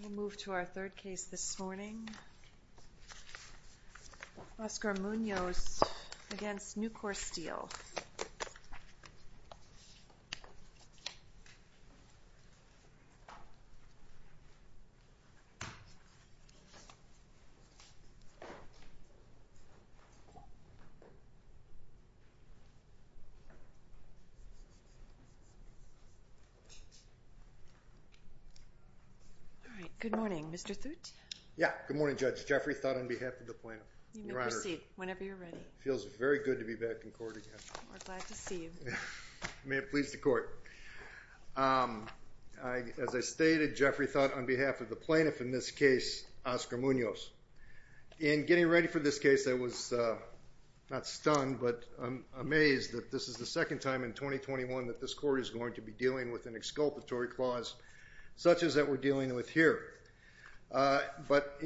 We'll move to our third case this morning, Oscar Munoz against Newcourse Steel. All right, good morning, Mr. Thoot. Yeah, good morning, Judge. Jeffrey Thot on behalf of the plaintiff. You may proceed whenever you're ready. Feels very good to be back in court again. We're glad to see you. May it please the court. As I stated, Jeffrey Thot on behalf of the plaintiff in this case, Oscar Munoz. In getting ready for this case, I was not stunned, but amazed that this is the second time in 2021 that this court is going to be dealing with an exculpatory clause such as that we're dealing with here. But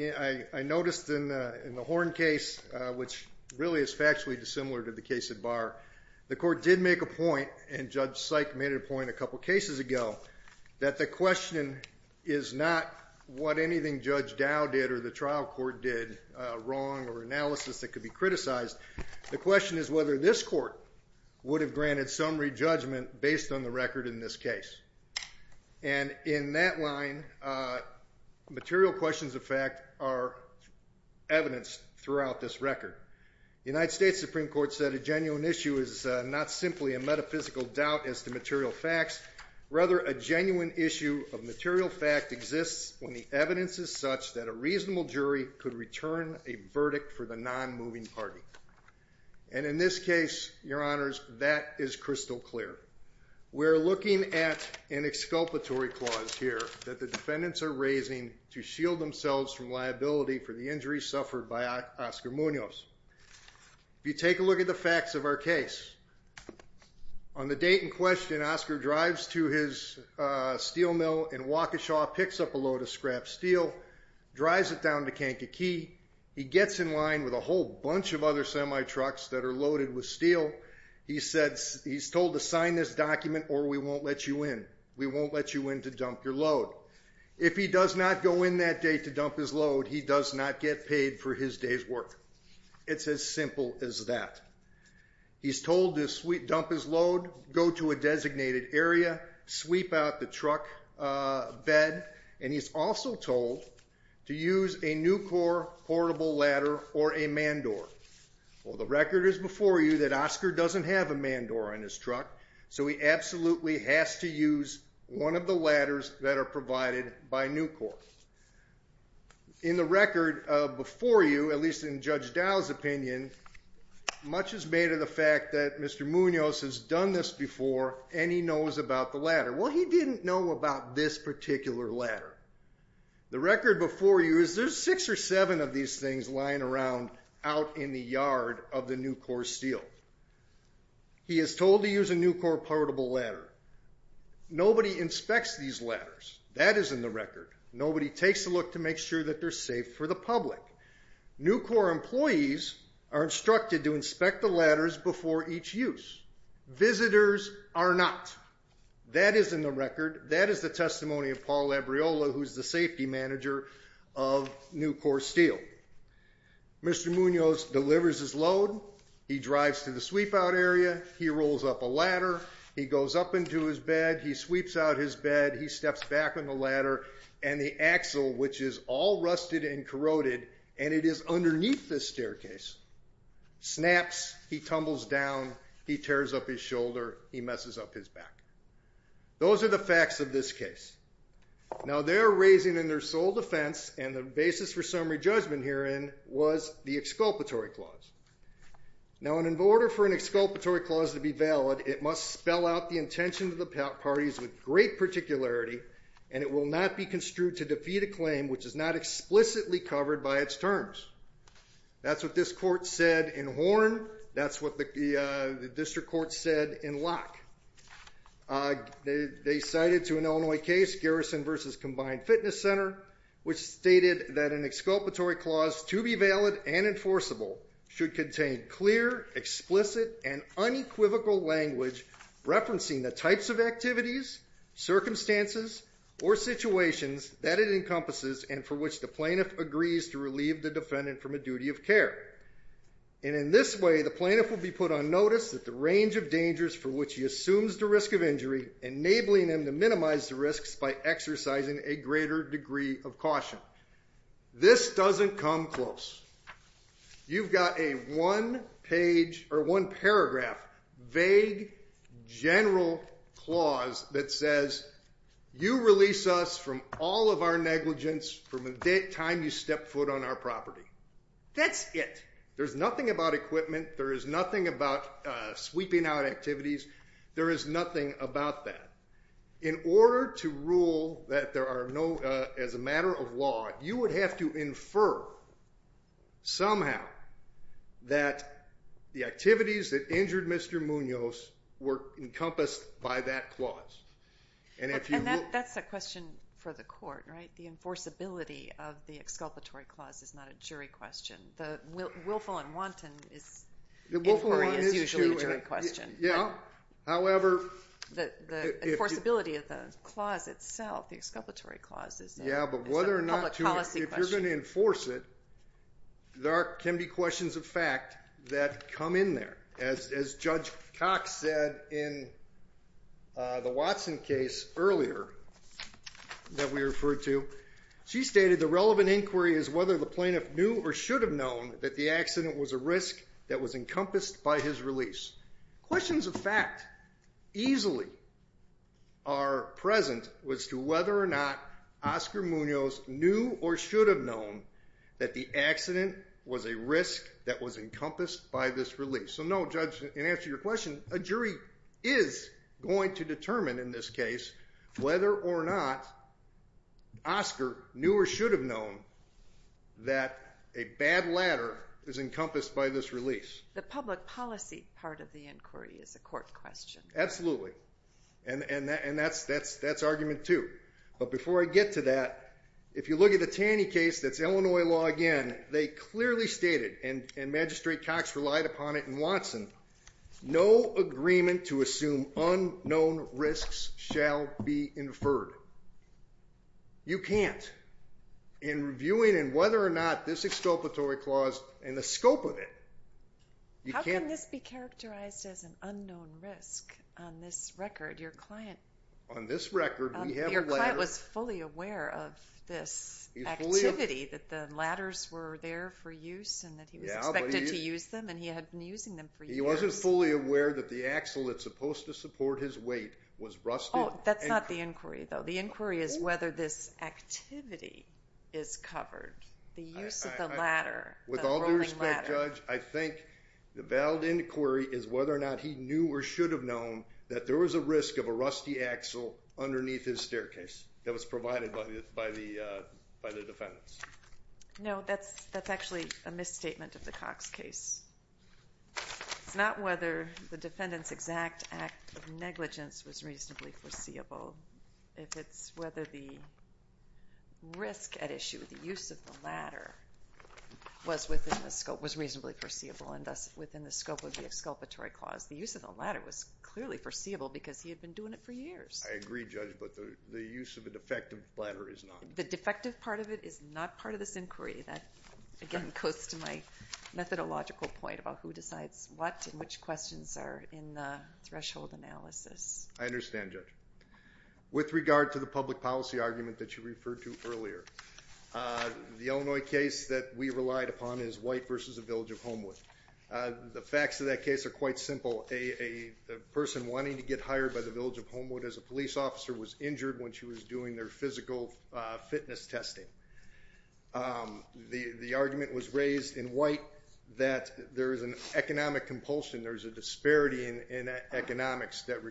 I noticed in the Horn case, which really is factually dissimilar to the case at Barr, the court did make a point, and Judge Syk made a point a couple of cases ago, that the question is not what anything Judge Dow did or the trial court did wrong or analysis that could be criticized. The question is whether this court would have granted some re-judgment based on the record in this case. And in that line, material questions of fact are evidenced throughout this record. The United States Supreme Court said a genuine issue is not simply a metaphysical doubt as to material facts, rather a genuine issue of material fact exists when the evidence is such that a reasonable jury could return a verdict for the non-moving party. And in this case, Your Honors, that is crystal clear. We're looking at an exculpatory clause here that the defendants are raising to shield themselves from liability for the injuries suffered by Oscar Munoz. If you take a look at the facts of our case, on the date in question, Oscar drives to his steel mill in Waukesha, picks up a load of scrap steel, drives it down to Kankakee. He gets in line with a whole bunch of other semi-trucks that are loaded with steel. He's told to sign this document or we won't let you in. We won't let you in to dump your load. If he does not go in that day to dump his load, he does not get paid for his day's work. It's as simple as that. He's told to dump his load, go to a designated area, sweep out the truck bed. And he's also told to use a Nucor portable ladder or a man door. Well, the record is before you that Oscar doesn't have a man door on his truck, so he absolutely has to use one of the ladders that are provided by Nucor. In the record before you, at least in Judge Dow's opinion, much is made of the fact that Mr. Munoz has done this before and he knows about the ladder. Well, he didn't know about this particular ladder. The record before you is there's six or seven of these things lying around out in the yard of the Nucor steel. He is told to use a Nucor portable ladder. Nobody inspects these ladders. That is in the record. Nobody takes a look to make sure that they're safe for the public. Nucor employees are instructed to inspect the ladders before each use. Visitors are not. That is in the record. That is the testimony of Paul Labriola, who's the safety manager of Nucor steel. Mr. Munoz delivers his load. He drives to the sweep out area. He rolls up a ladder. He goes up into his bed. He sweeps out his bed. He steps back on the ladder. And the axle, which is all rusted and corroded, and it is underneath the staircase, snaps. He tumbles down. He tears up his shoulder. He messes up his back. Those are the facts of this case. Now, they're raising in their sole defense, and the basis for summary judgment herein was the exculpatory clause. Now, in order for an exculpatory clause to be valid, it must spell out the intention of the parties with great particularity. And it will not be construed to defeat a claim which is not explicitly covered by its terms. That's what this court said in Horn. That's what the district court said in Locke. They cited to an Illinois case, Garrison versus Combined Fitness Center, which stated that an exculpatory clause, to be valid and enforceable, should contain clear, explicit, and unequivocal language referencing the types of activities, circumstances, or situations that it encompasses and for which the plaintiff agrees to relieve the defendant from a duty of care. And in this way, the plaintiff will be put on notice that the range of dangers for which he assumes the risk of injury, enabling him to minimize the risks by exercising a greater degree of caution. This doesn't come close. You've got a one paragraph, vague, general clause that says, you release us from all of our negligence from the time you step foot on our property. That's it. There's nothing about equipment. There is nothing about sweeping out activities. There is nothing about that. In order to rule that there are no, as a matter of law, you would have to infer somehow that the activities that injured Mr. Munoz were encompassed by that clause. And if you will. And that's a question for the court, right? The enforceability of the exculpatory clause is not a jury question. The willful and wanton is usually a jury question. Yeah. However, if you're going to enforce it, there can be questions of fact that come in there. As Judge Cox said in the Watson case earlier that we referred to, she stated the relevant inquiry is whether the plaintiff knew or should have known that the accident was a risk that was encompassed by his release. Questions of fact easily are present as to whether or not Oscar Munoz knew or should have known that the accident was a risk that was encompassed by this release. So no, judge, in answer to your question, a jury is going to determine in this case whether or not Oscar knew or should have known that a bad ladder is encompassed by this release. The public policy part of the inquiry is a court question. Absolutely. And that's argument two. But before I get to that, if you look at the Taney case, that's Illinois law again. They clearly stated, and Magistrate Cox relied upon it in Watson, no agreement to assume unknown risks shall be inferred. You can't. In reviewing whether or not this exculpatory clause and the scope of it, you can't. How can this be characterized as an unknown risk on this record? Your client was fully aware of this activity, that the ladders were there for use and that he was expected to use them and he had been using them for years. He wasn't fully aware that the axle that's supposed to support his weight was rusted. Oh, that's not the inquiry, though. The inquiry is whether this activity is covered, the use of the ladder, the rolling ladder. With all due respect, judge, I think the valid inquiry is whether or not he knew or should have known that there was a risk of a rusty axle underneath his staircase that was provided by the defendants. No, that's actually a misstatement of the Cox case. It's not whether the defendant's exact act of negligence was reasonably foreseeable. If it's whether the risk at issue, the use of the ladder, was within the scope, was reasonably foreseeable and thus within the scope of the exculpatory clause. The use of the ladder was clearly foreseeable because he had been doing it for years. I agree, judge, but the use of a defective ladder is not. The defective part of it is not part of this inquiry. That, again, goes to my methodological point about who decides what and which questions are in the threshold analysis. I understand, judge. With regard to the public policy argument that you referred to earlier, the Illinois case that we relied upon is White versus the Village of Homewood. The facts of that case are quite simple. A person wanting to get hired by the Village of Homewood as a police officer was injured when she was doing their physical fitness testing. The argument was raised in White that there is an economic compulsion. There's a disparity in economics that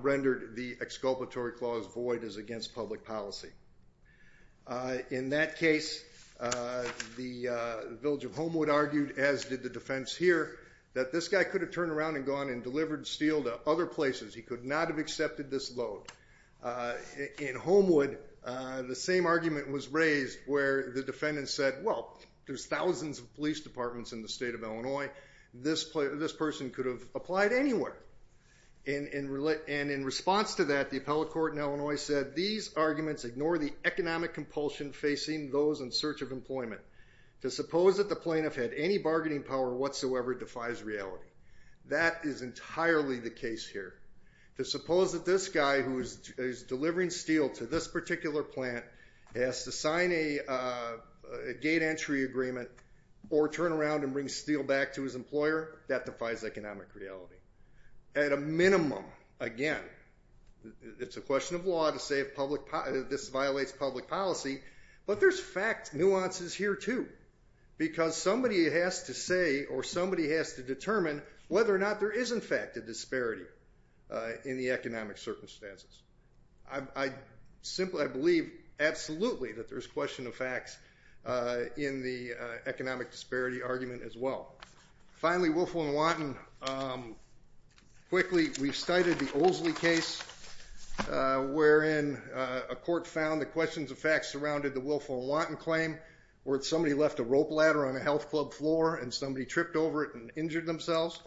rendered the exculpatory clause void as against public policy. In that case, the Village of Homewood argued, as did the defense here, that this guy could have turned around and gone and delivered steel to other places. He could not have accepted this load. In Homewood, the same argument was raised where the defendant said, well, there's thousands of police departments in the state of Illinois. This person could have applied anywhere. And in response to that, the appellate court in Illinois said, these arguments ignore the economic compulsion facing those in search of employment. To suppose that the plaintiff had any bargaining power whatsoever defies reality. That is entirely the case here. To suppose that this guy who is delivering steel to this particular plant has to sign a gate entry agreement or turn around and bring steel back to his employer, that defies economic reality. At a minimum, again, it's a question of law to say this violates public policy. But there's fact nuances here, too. Because somebody has to say or somebody has to determine whether or not there is, in fact, a disparity in the economic circumstances. I simply believe absolutely that there's question of facts in the economic disparity argument as well. Finally, Wilfo and Wanton. Quickly, we've cited the Oldsley case, wherein a court found the questions of facts surrounded the Wilfo and Wanton claim, where somebody left a rope ladder on a health club floor and somebody tripped over it and injured themselves.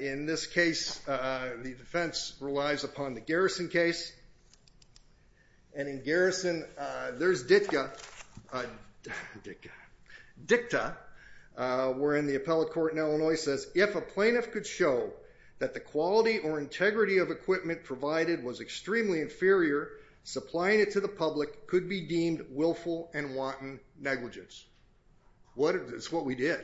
In this case, the defense relies upon the Garrison case. And in Garrison, there's DICTA, wherein the appellate court in Illinois says, if a plaintiff could show that the quality or integrity of equipment provided was extremely inferior, supplying it to the public could be deemed Wilfo and Wanton negligence. That's what we did.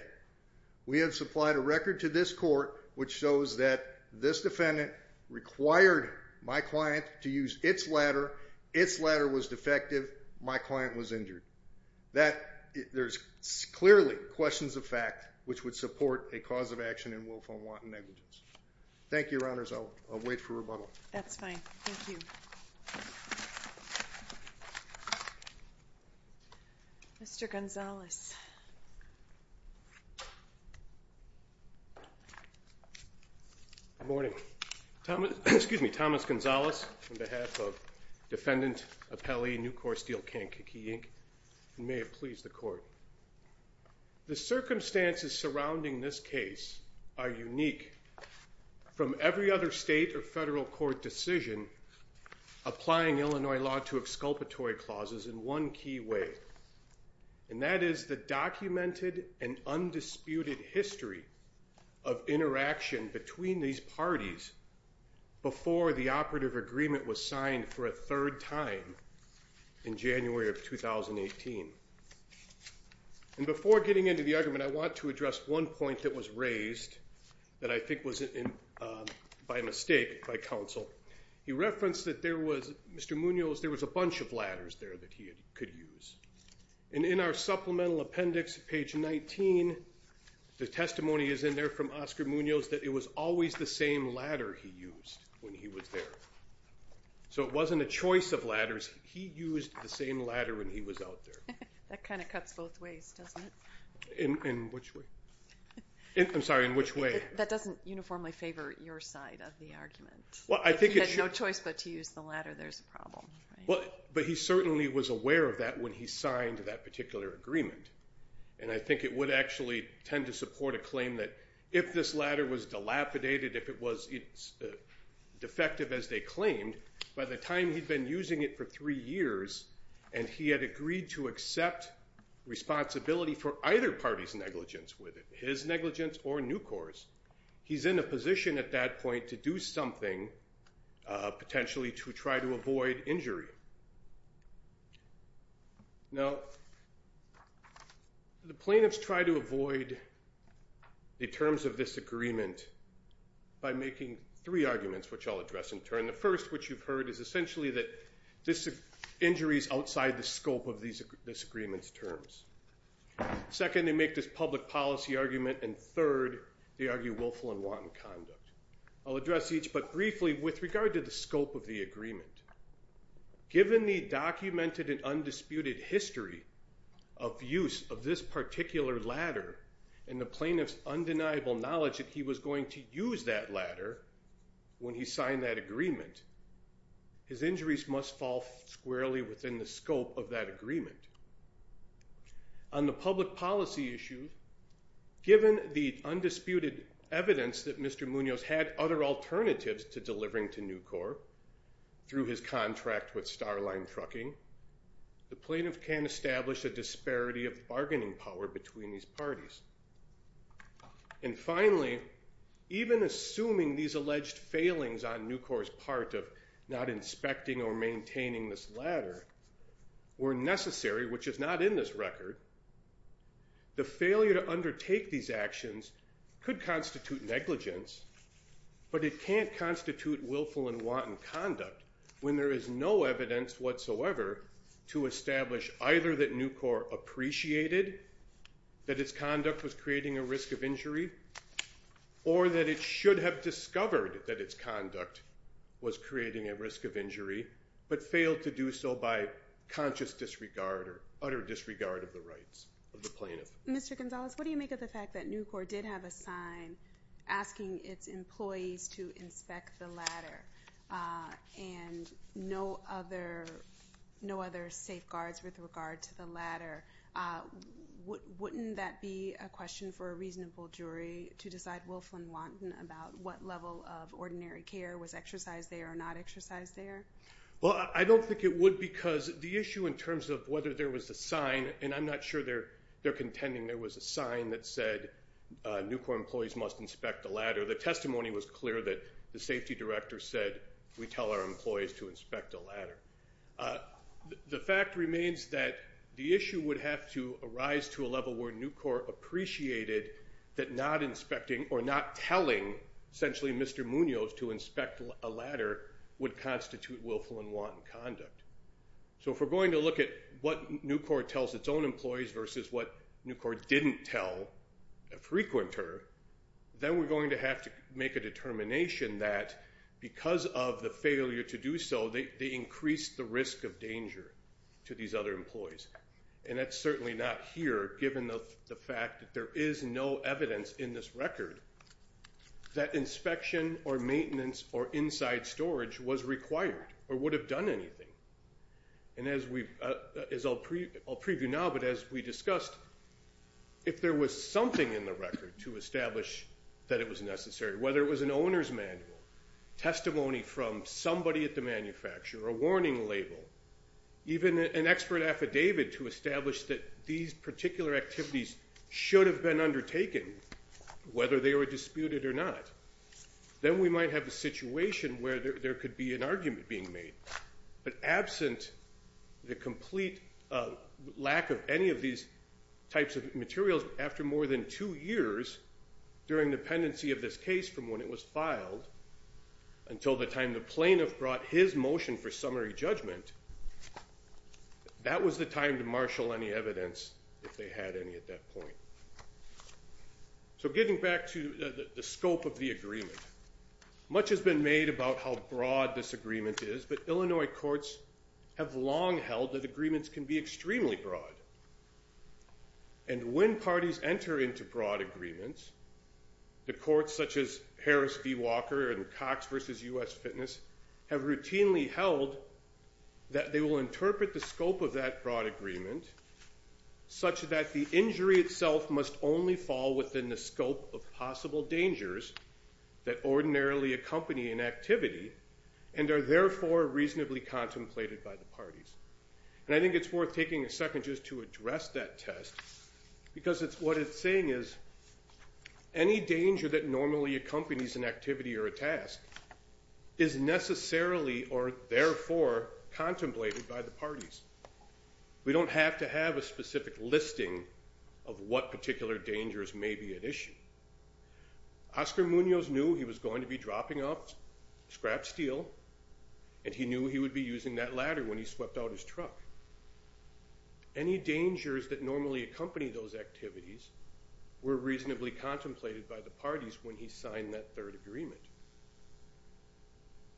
We have supplied a record to this court which shows that this defendant required my client to use its ladder. Its ladder was defective. My client was injured. There's clearly questions of fact which would support a cause of action in Wilfo and Wanton negligence. Thank you, Your Honors. I'll wait for rebuttal. That's fine. Thank you. Thank you. Mr. Gonzales. Good morning. Excuse me, Thomas Gonzales on behalf of Defendant Appellee New Court Steel Can Kiki, Inc. May it please the court. The circumstances surrounding this case are unique from every other state or federal court decision applying Illinois law to exculpatory clauses in one key way. And that is the documented and undisputed history of interaction between these parties before the operative agreement was signed for a third time in January of 2018. And before getting into the argument, I want to address one point that was raised that I think was by mistake by counsel. He referenced that there was, Mr. Munoz, there was a bunch of ladders there that he could use. And in our supplemental appendix, page 19, the testimony is in there from Oscar Munoz that it was always the same ladder he used when he was there. So it wasn't a choice of ladders. He used the same ladder when he was out there. That kind of cuts both ways, doesn't it? In which way? I'm sorry, in which way? That doesn't uniformly favor your side of the argument. He had no choice but to use the ladder. There's a problem. But he certainly was aware of that when he signed that particular agreement. And I think it would actually tend to support a claim that if this ladder was dilapidated, if it was defective as they claimed, by the time he'd been using it for three years and he had agreed to accept responsibility for either party's negligence with it, his negligence or NUCOR's, he's in a position at that point to do something, potentially to try to avoid injury. Now, the plaintiffs try to avoid the terms of this agreement by making three arguments, which I'll address in turn. The first, which you've heard, is essentially that this injury is outside the scope of this agreement's terms. Second, they make this public policy argument. And third, they argue willful and wanton conduct. I'll address each but briefly with regard to the scope of the agreement. Given the documented and undisputed history of use of this particular ladder and the plaintiff's undeniable knowledge that he was going to use that ladder when he signed that agreement, his injuries must fall squarely within the scope of that agreement. On the public policy issue, given the undisputed evidence that Mr. Munoz had other alternatives to delivering to NUCOR through his contract with Starline Trucking, the plaintiff can establish a disparity of bargaining power between these parties. And finally, even assuming these alleged failings on NUCOR's part of not inspecting or maintaining this ladder were necessary, which is not in this record, the failure to undertake these actions could constitute negligence. But it can't constitute willful and wanton conduct when there is no evidence whatsoever to establish either that NUCOR appreciated that its conduct was creating a risk of injury or that it should have discovered that its conduct was creating a risk of injury but failed to do so by conscious disregard or utter disregard of the rights of the plaintiff. Mr. Gonzalez, what do you make of the fact that NUCOR did have a sign asking its employees to inspect the ladder and no other safeguards with regard to the ladder? Wouldn't that be a question for a reasonable jury to decide willful and wanton about what level of ordinary care was exercised there or not exercised there? Well, I don't think it would because the issue in terms of whether there was a sign, and I'm not sure they're contending there was a sign that said NUCOR employees must inspect the ladder, the testimony was clear that the safety director said we tell our employees to inspect the ladder. The fact remains that the issue would have to arise to a level where NUCOR appreciated that not inspecting or not telling, essentially, Mr. Munoz to inspect a ladder would constitute willful and wanton conduct. So if we're going to look at what NUCOR tells its own employees versus what NUCOR didn't tell a frequenter, then we're going to have to make a determination that because of the failure to do so, they increased the risk of danger to these other employees. And that's certainly not here given the fact that there is no evidence in this record that inspection or maintenance or inside storage was required or would have done anything. And as I'll preview now, but as we discussed, if there was something in the record to establish that it was necessary, whether it was an owner's manual, testimony from somebody at the manufacturer, a warning label, even an expert affidavit to establish that these particular activities should have been undertaken, whether they were disputed or not, then we might have a situation where there could be an argument being made. But absent the complete lack of any of these types of materials, after more than two years during dependency of this case from when it was filed until the time the plaintiff brought his motion for summary judgment, that was the time to marshal any evidence if they had any at that point. So getting back to the scope of the agreement, much has been made about how broad this agreement is. But Illinois courts have long held that agreements can be extremely broad. And when parties enter into broad agreements, the courts such as Harris v. Walker and Cox versus US Fitness have routinely held that they will interpret the scope of that broad agreement such that the injury itself must only fall within the scope of possible dangers that ordinarily accompany an activity and are therefore reasonably contemplated by the parties. And I think it's worth taking a second just to address that test, because what it's saying is any danger that normally accompanies an activity or a task is necessarily or therefore contemplated by the parties. We don't have to have a specific listing of what particular dangers may be at issue. Oscar Munoz knew he was going to be dropping off scrap steel, and he knew he would be using that ladder when he swept out his truck. Any dangers that normally accompany those activities were reasonably contemplated by the parties when he signed that third agreement.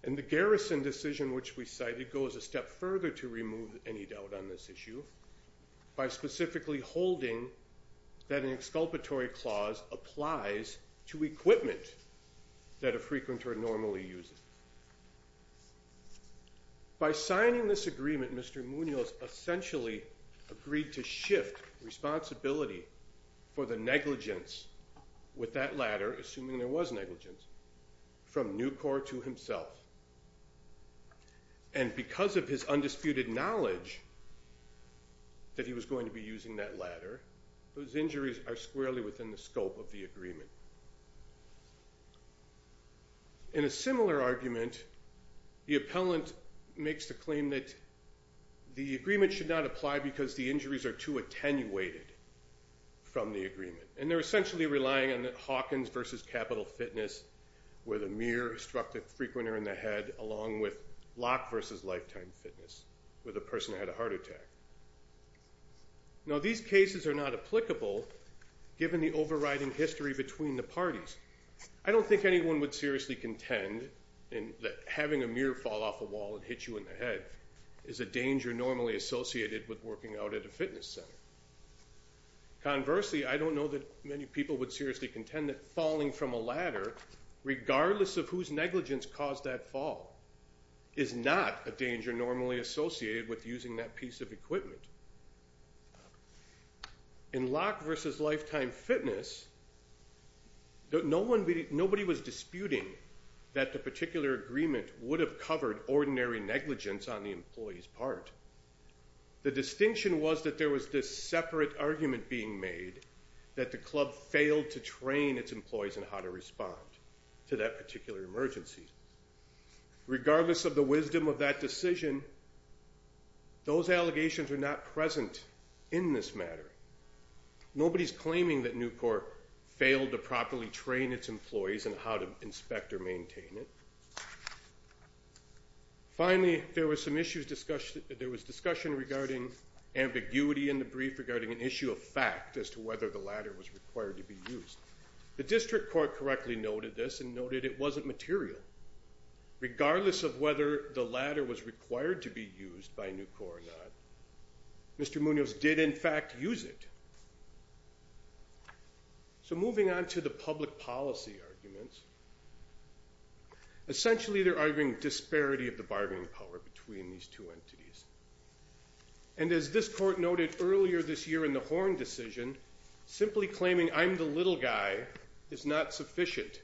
And the Garrison decision which we cited goes a step further to remove any doubt on this issue by specifically holding that an exculpatory clause applies to equipment that a frequenter normally uses. By signing this agreement, Mr. Munoz essentially agreed to shift responsibility for the negligence with that ladder, assuming there was negligence, from Nucor to himself. And because of his undisputed knowledge that he was going to be using that ladder, those injuries are squarely within the scope of the agreement. In a similar argument, the appellant makes the claim that the agreement should not apply because the injuries are too attenuated from the agreement, and they're essentially relying on Hawkins versus Capital Fitness, where the mirror struck the frequenter in the head, along with Locke versus Lifetime Fitness, where the person had a heart attack. Now, these cases are not applicable, given the overriding history between the parties. I don't think anyone would seriously contend that having a mirror fall off a wall and hit you in the head is a danger normally associated with working out at a fitness center. Conversely, I don't know that many people would seriously rely on a ladder, regardless of whose negligence caused that fall, is not a danger normally associated with using that piece of equipment. In Locke versus Lifetime Fitness, nobody was disputing that the particular agreement would have covered ordinary negligence on the employee's part. The distinction was that there was this separate argument being made that the club failed to train its employees on how to respond to that particular emergency. Regardless of the wisdom of that decision, those allegations are not present in this matter. Nobody's claiming that Nucor failed to properly train its employees on how to inspect or maintain it. Finally, there was discussion regarding ambiguity in the brief regarding an issue of fact as to whether the ladder was required to be used. The district court correctly noted this and noted it wasn't material. Regardless of whether the ladder was required to be used by Nucor or not, Mr. Munoz did in fact use it. So moving on to the public policy arguments, essentially they're arguing disparity of the bargaining power between these two entities. And as this court noted earlier this year in the Horn decision, simply claiming I'm the little guy is not sufficient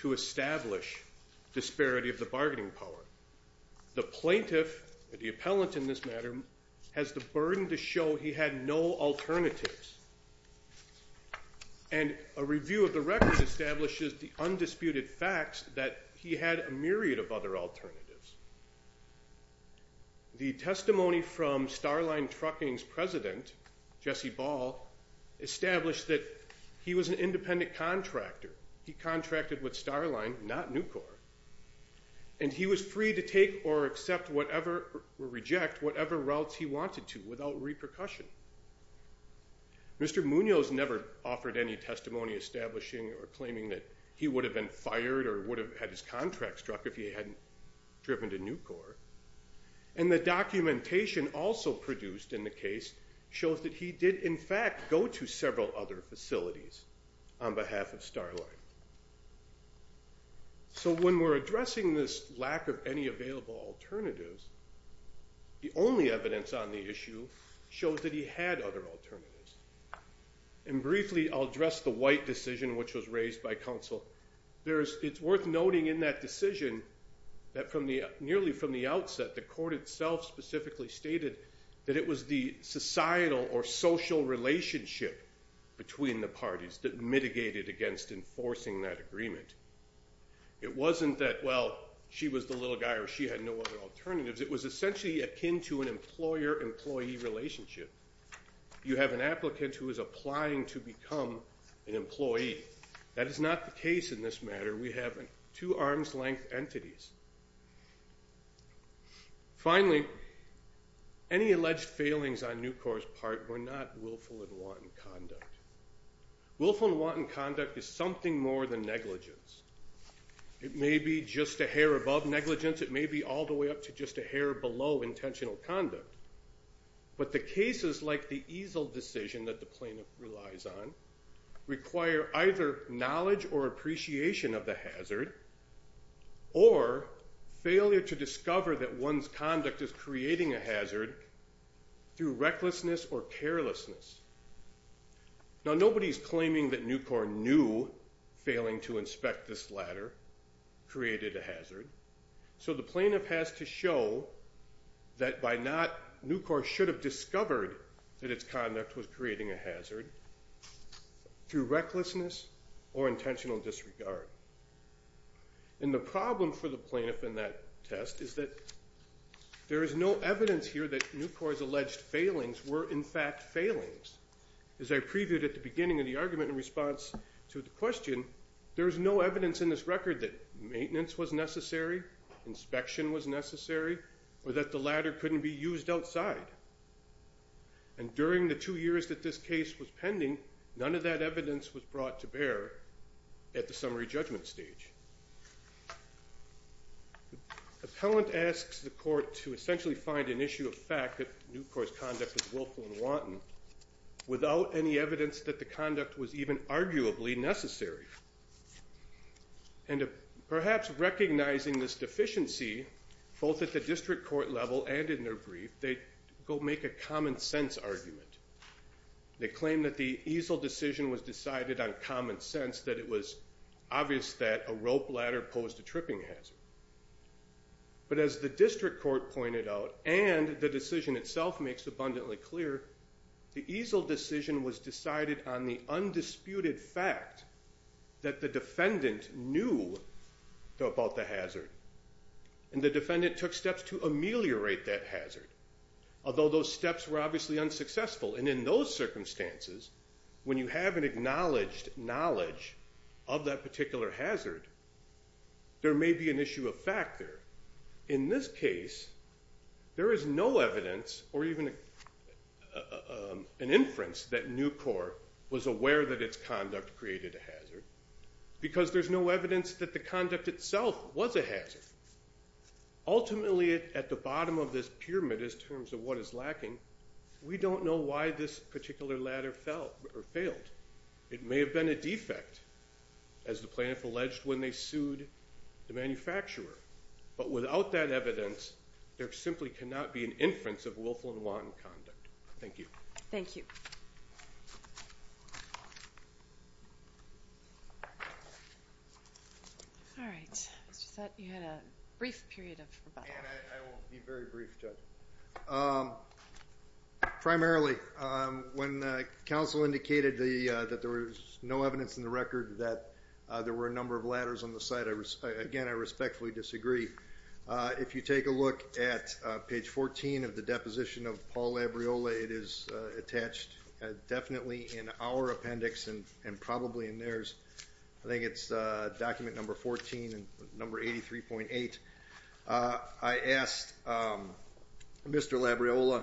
to establish disparity of the bargaining power. The plaintiff, the appellant in this matter, has the burden to show he had no alternatives. And a review of the record establishes the undisputed facts that he had a myriad of other alternatives. The testimony from Starline Trucking's president, Jesse Ball, established that he was an independent contractor. He contracted with Starline, not Nucor. And he was free to take or accept whatever, or reject whatever routes he wanted to without repercussion. Mr. Munoz never offered any testimony establishing or claiming that he would have been fired or would have had his contract struck if he hadn't driven to Nucor. And the documentation also produced in the case shows that he did in fact go to several other facilities on behalf of Starline. So when we're addressing this lack of any available alternatives, the only evidence on the issue shows that he had other alternatives. And briefly I'll address the White decision which was raised by counsel. It's worth noting in that decision that nearly from the outset the court itself specifically stated that it was the societal or social relationship between the parties that mitigated against enforcing that agreement. It wasn't that, well, she was the little guy or she had no other alternatives. It was essentially akin to an employer-employee relationship. You have an applicant who is applying to become an employee. That is not the case in this matter. We have two arm's-length entities. Finally, any alleged failings on Nucor's part were not willful and wanton conduct. Willful and wanton conduct is something more than negligence. It may be just a hair above negligence. It may be all the way up to just a hair below intentional conduct. But the cases like the Easel decision that the plaintiff relies on require either knowledge or appreciation of the hazard or failure to discover that one's conduct is creating a hazard through recklessness or carelessness. Now, nobody's claiming that Nucor knew failing to inspect this ladder created a hazard. So the plaintiff has to show that by not... Nucor should have discovered that its conduct was creating a hazard through recklessness or intentional disregard. And the problem for the plaintiff in that test is that there is no evidence here that Nucor's alleged failings were in fact failings. As I previewed at the beginning of the argument in response to the question, there is no evidence in this record that maintenance was necessary, inspection was necessary, or that the ladder couldn't be used outside. And during the two years that this case was pending, none of that evidence was brought to bear at the summary judgment stage. Appellant asks the court to essentially find an issue of fact that Nucor's conduct was willful and wanton without any evidence that the conduct was even arguably necessary. And perhaps recognizing this deficiency, both at the district court level and in their brief, they go make a common-sense argument. They claim that the easel decision was decided on common sense, that it was obvious that a rope ladder posed a tripping hazard. But as the district court pointed out and the decision itself makes abundantly clear, the easel decision was decided on the undisputed fact that the defendant knew about the hazard. And the defendant took steps to ameliorate that hazard, although those steps were obviously unsuccessful. And in those circumstances, when you have an acknowledged knowledge of that particular hazard, there may be an issue of fact there. In this case, there is no evidence or even an inference that Nucor was aware that its conduct created a hazard because there's no evidence that the conduct itself was a hazard. Ultimately, at the bottom of this pyramid, in terms of what is lacking, we don't know why this particular ladder failed. It may have been a defect, as the plaintiff alleged when they sued the manufacturer. But without that evidence, there simply cannot be an inference of Wilflin-Wanton conduct. Thank you. Thank you. Thank you. All right. I just thought you had a brief period of rebuttal. I won't be very brief, Judge. Primarily, when counsel indicated that there was no evidence in the record that there were a number of ladders on the site, again, I respectfully disagree. If you take a look at page 14 of the deposition of Paul Labriola, it is attached definitely in our appendix and probably in theirs. I think it's document number 14 and number 83.8. I asked Mr. Labriola,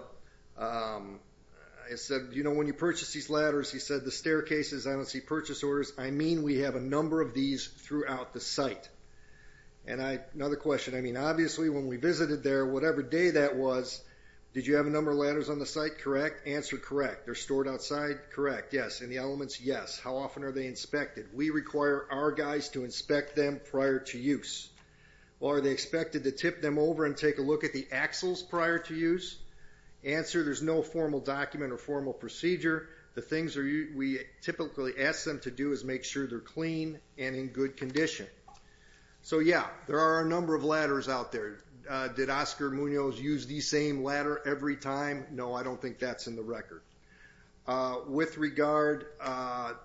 I said, you know, when you purchase these ladders, he said, the staircases, I don't see purchase orders. I mean, we have a number of these throughout the site. And another question, I mean, obviously, when we visited there, whatever day that was, did you have a number of ladders on the site? Correct. Answer, correct. They're stored outside? Correct. Yes. And the elements? Yes. How often are they inspected? We require our guys to inspect them prior to use. Well, are they expected to tip them over and take a look at the axles prior to use? Answer, there's no formal document or formal procedure. The things we typically ask them to do is make sure they're clean and in good condition. So, yeah, there are a number of ladders out there. Did Oscar Munoz use the same ladder every time? No, I don't think that's in the record. With regard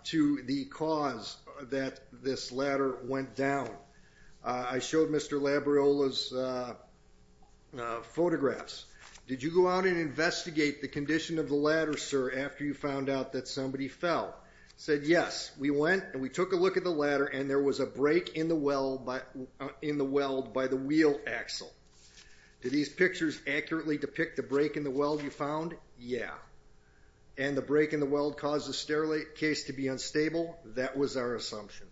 to the cause that this ladder went down, I showed Mr. Labriola's photographs. Did you go out and investigate the condition of the ladder, sir, after you found out that somebody fell? He said, yes, we went and we took a look at the ladder and there was a break in the weld by the wheel axle. Do these pictures accurately depict the break in the weld you found? Yeah. And the break in the weld caused the staircase to be unstable? That was our assumption.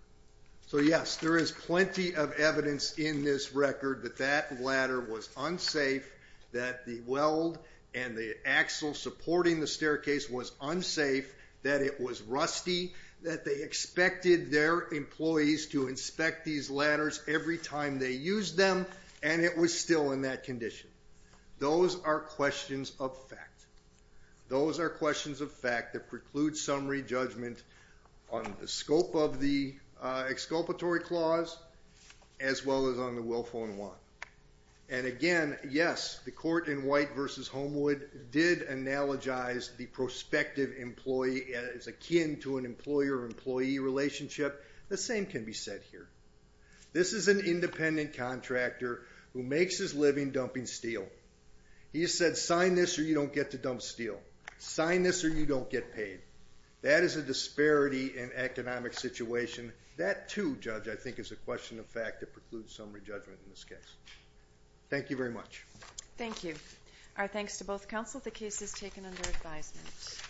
So, yes, there is plenty of evidence in this record that that ladder was unsafe, that the weld and the axle supporting the staircase was unsafe, that it was rusty, that they expected their employees to inspect these ladders every time they used them, and it was still in that condition. Those are questions of fact. Those are questions of fact that preclude summary judgment on the scope of the exculpatory clause as well as on the willful and want. And, again, yes, the court in White v. Homewood did analogize the prospective employee as akin to an employer-employee relationship. The same can be said here. This is an independent contractor who makes his living dumping steel. He said, sign this or you don't get to dump steel. Sign this or you don't get paid. That is a disparity in economic situation. That too, Judge, I think is a question of fact that precludes summary judgment in this case. Thank you very much. Thank you. Our thanks to both counsel. The case is taken under advisement.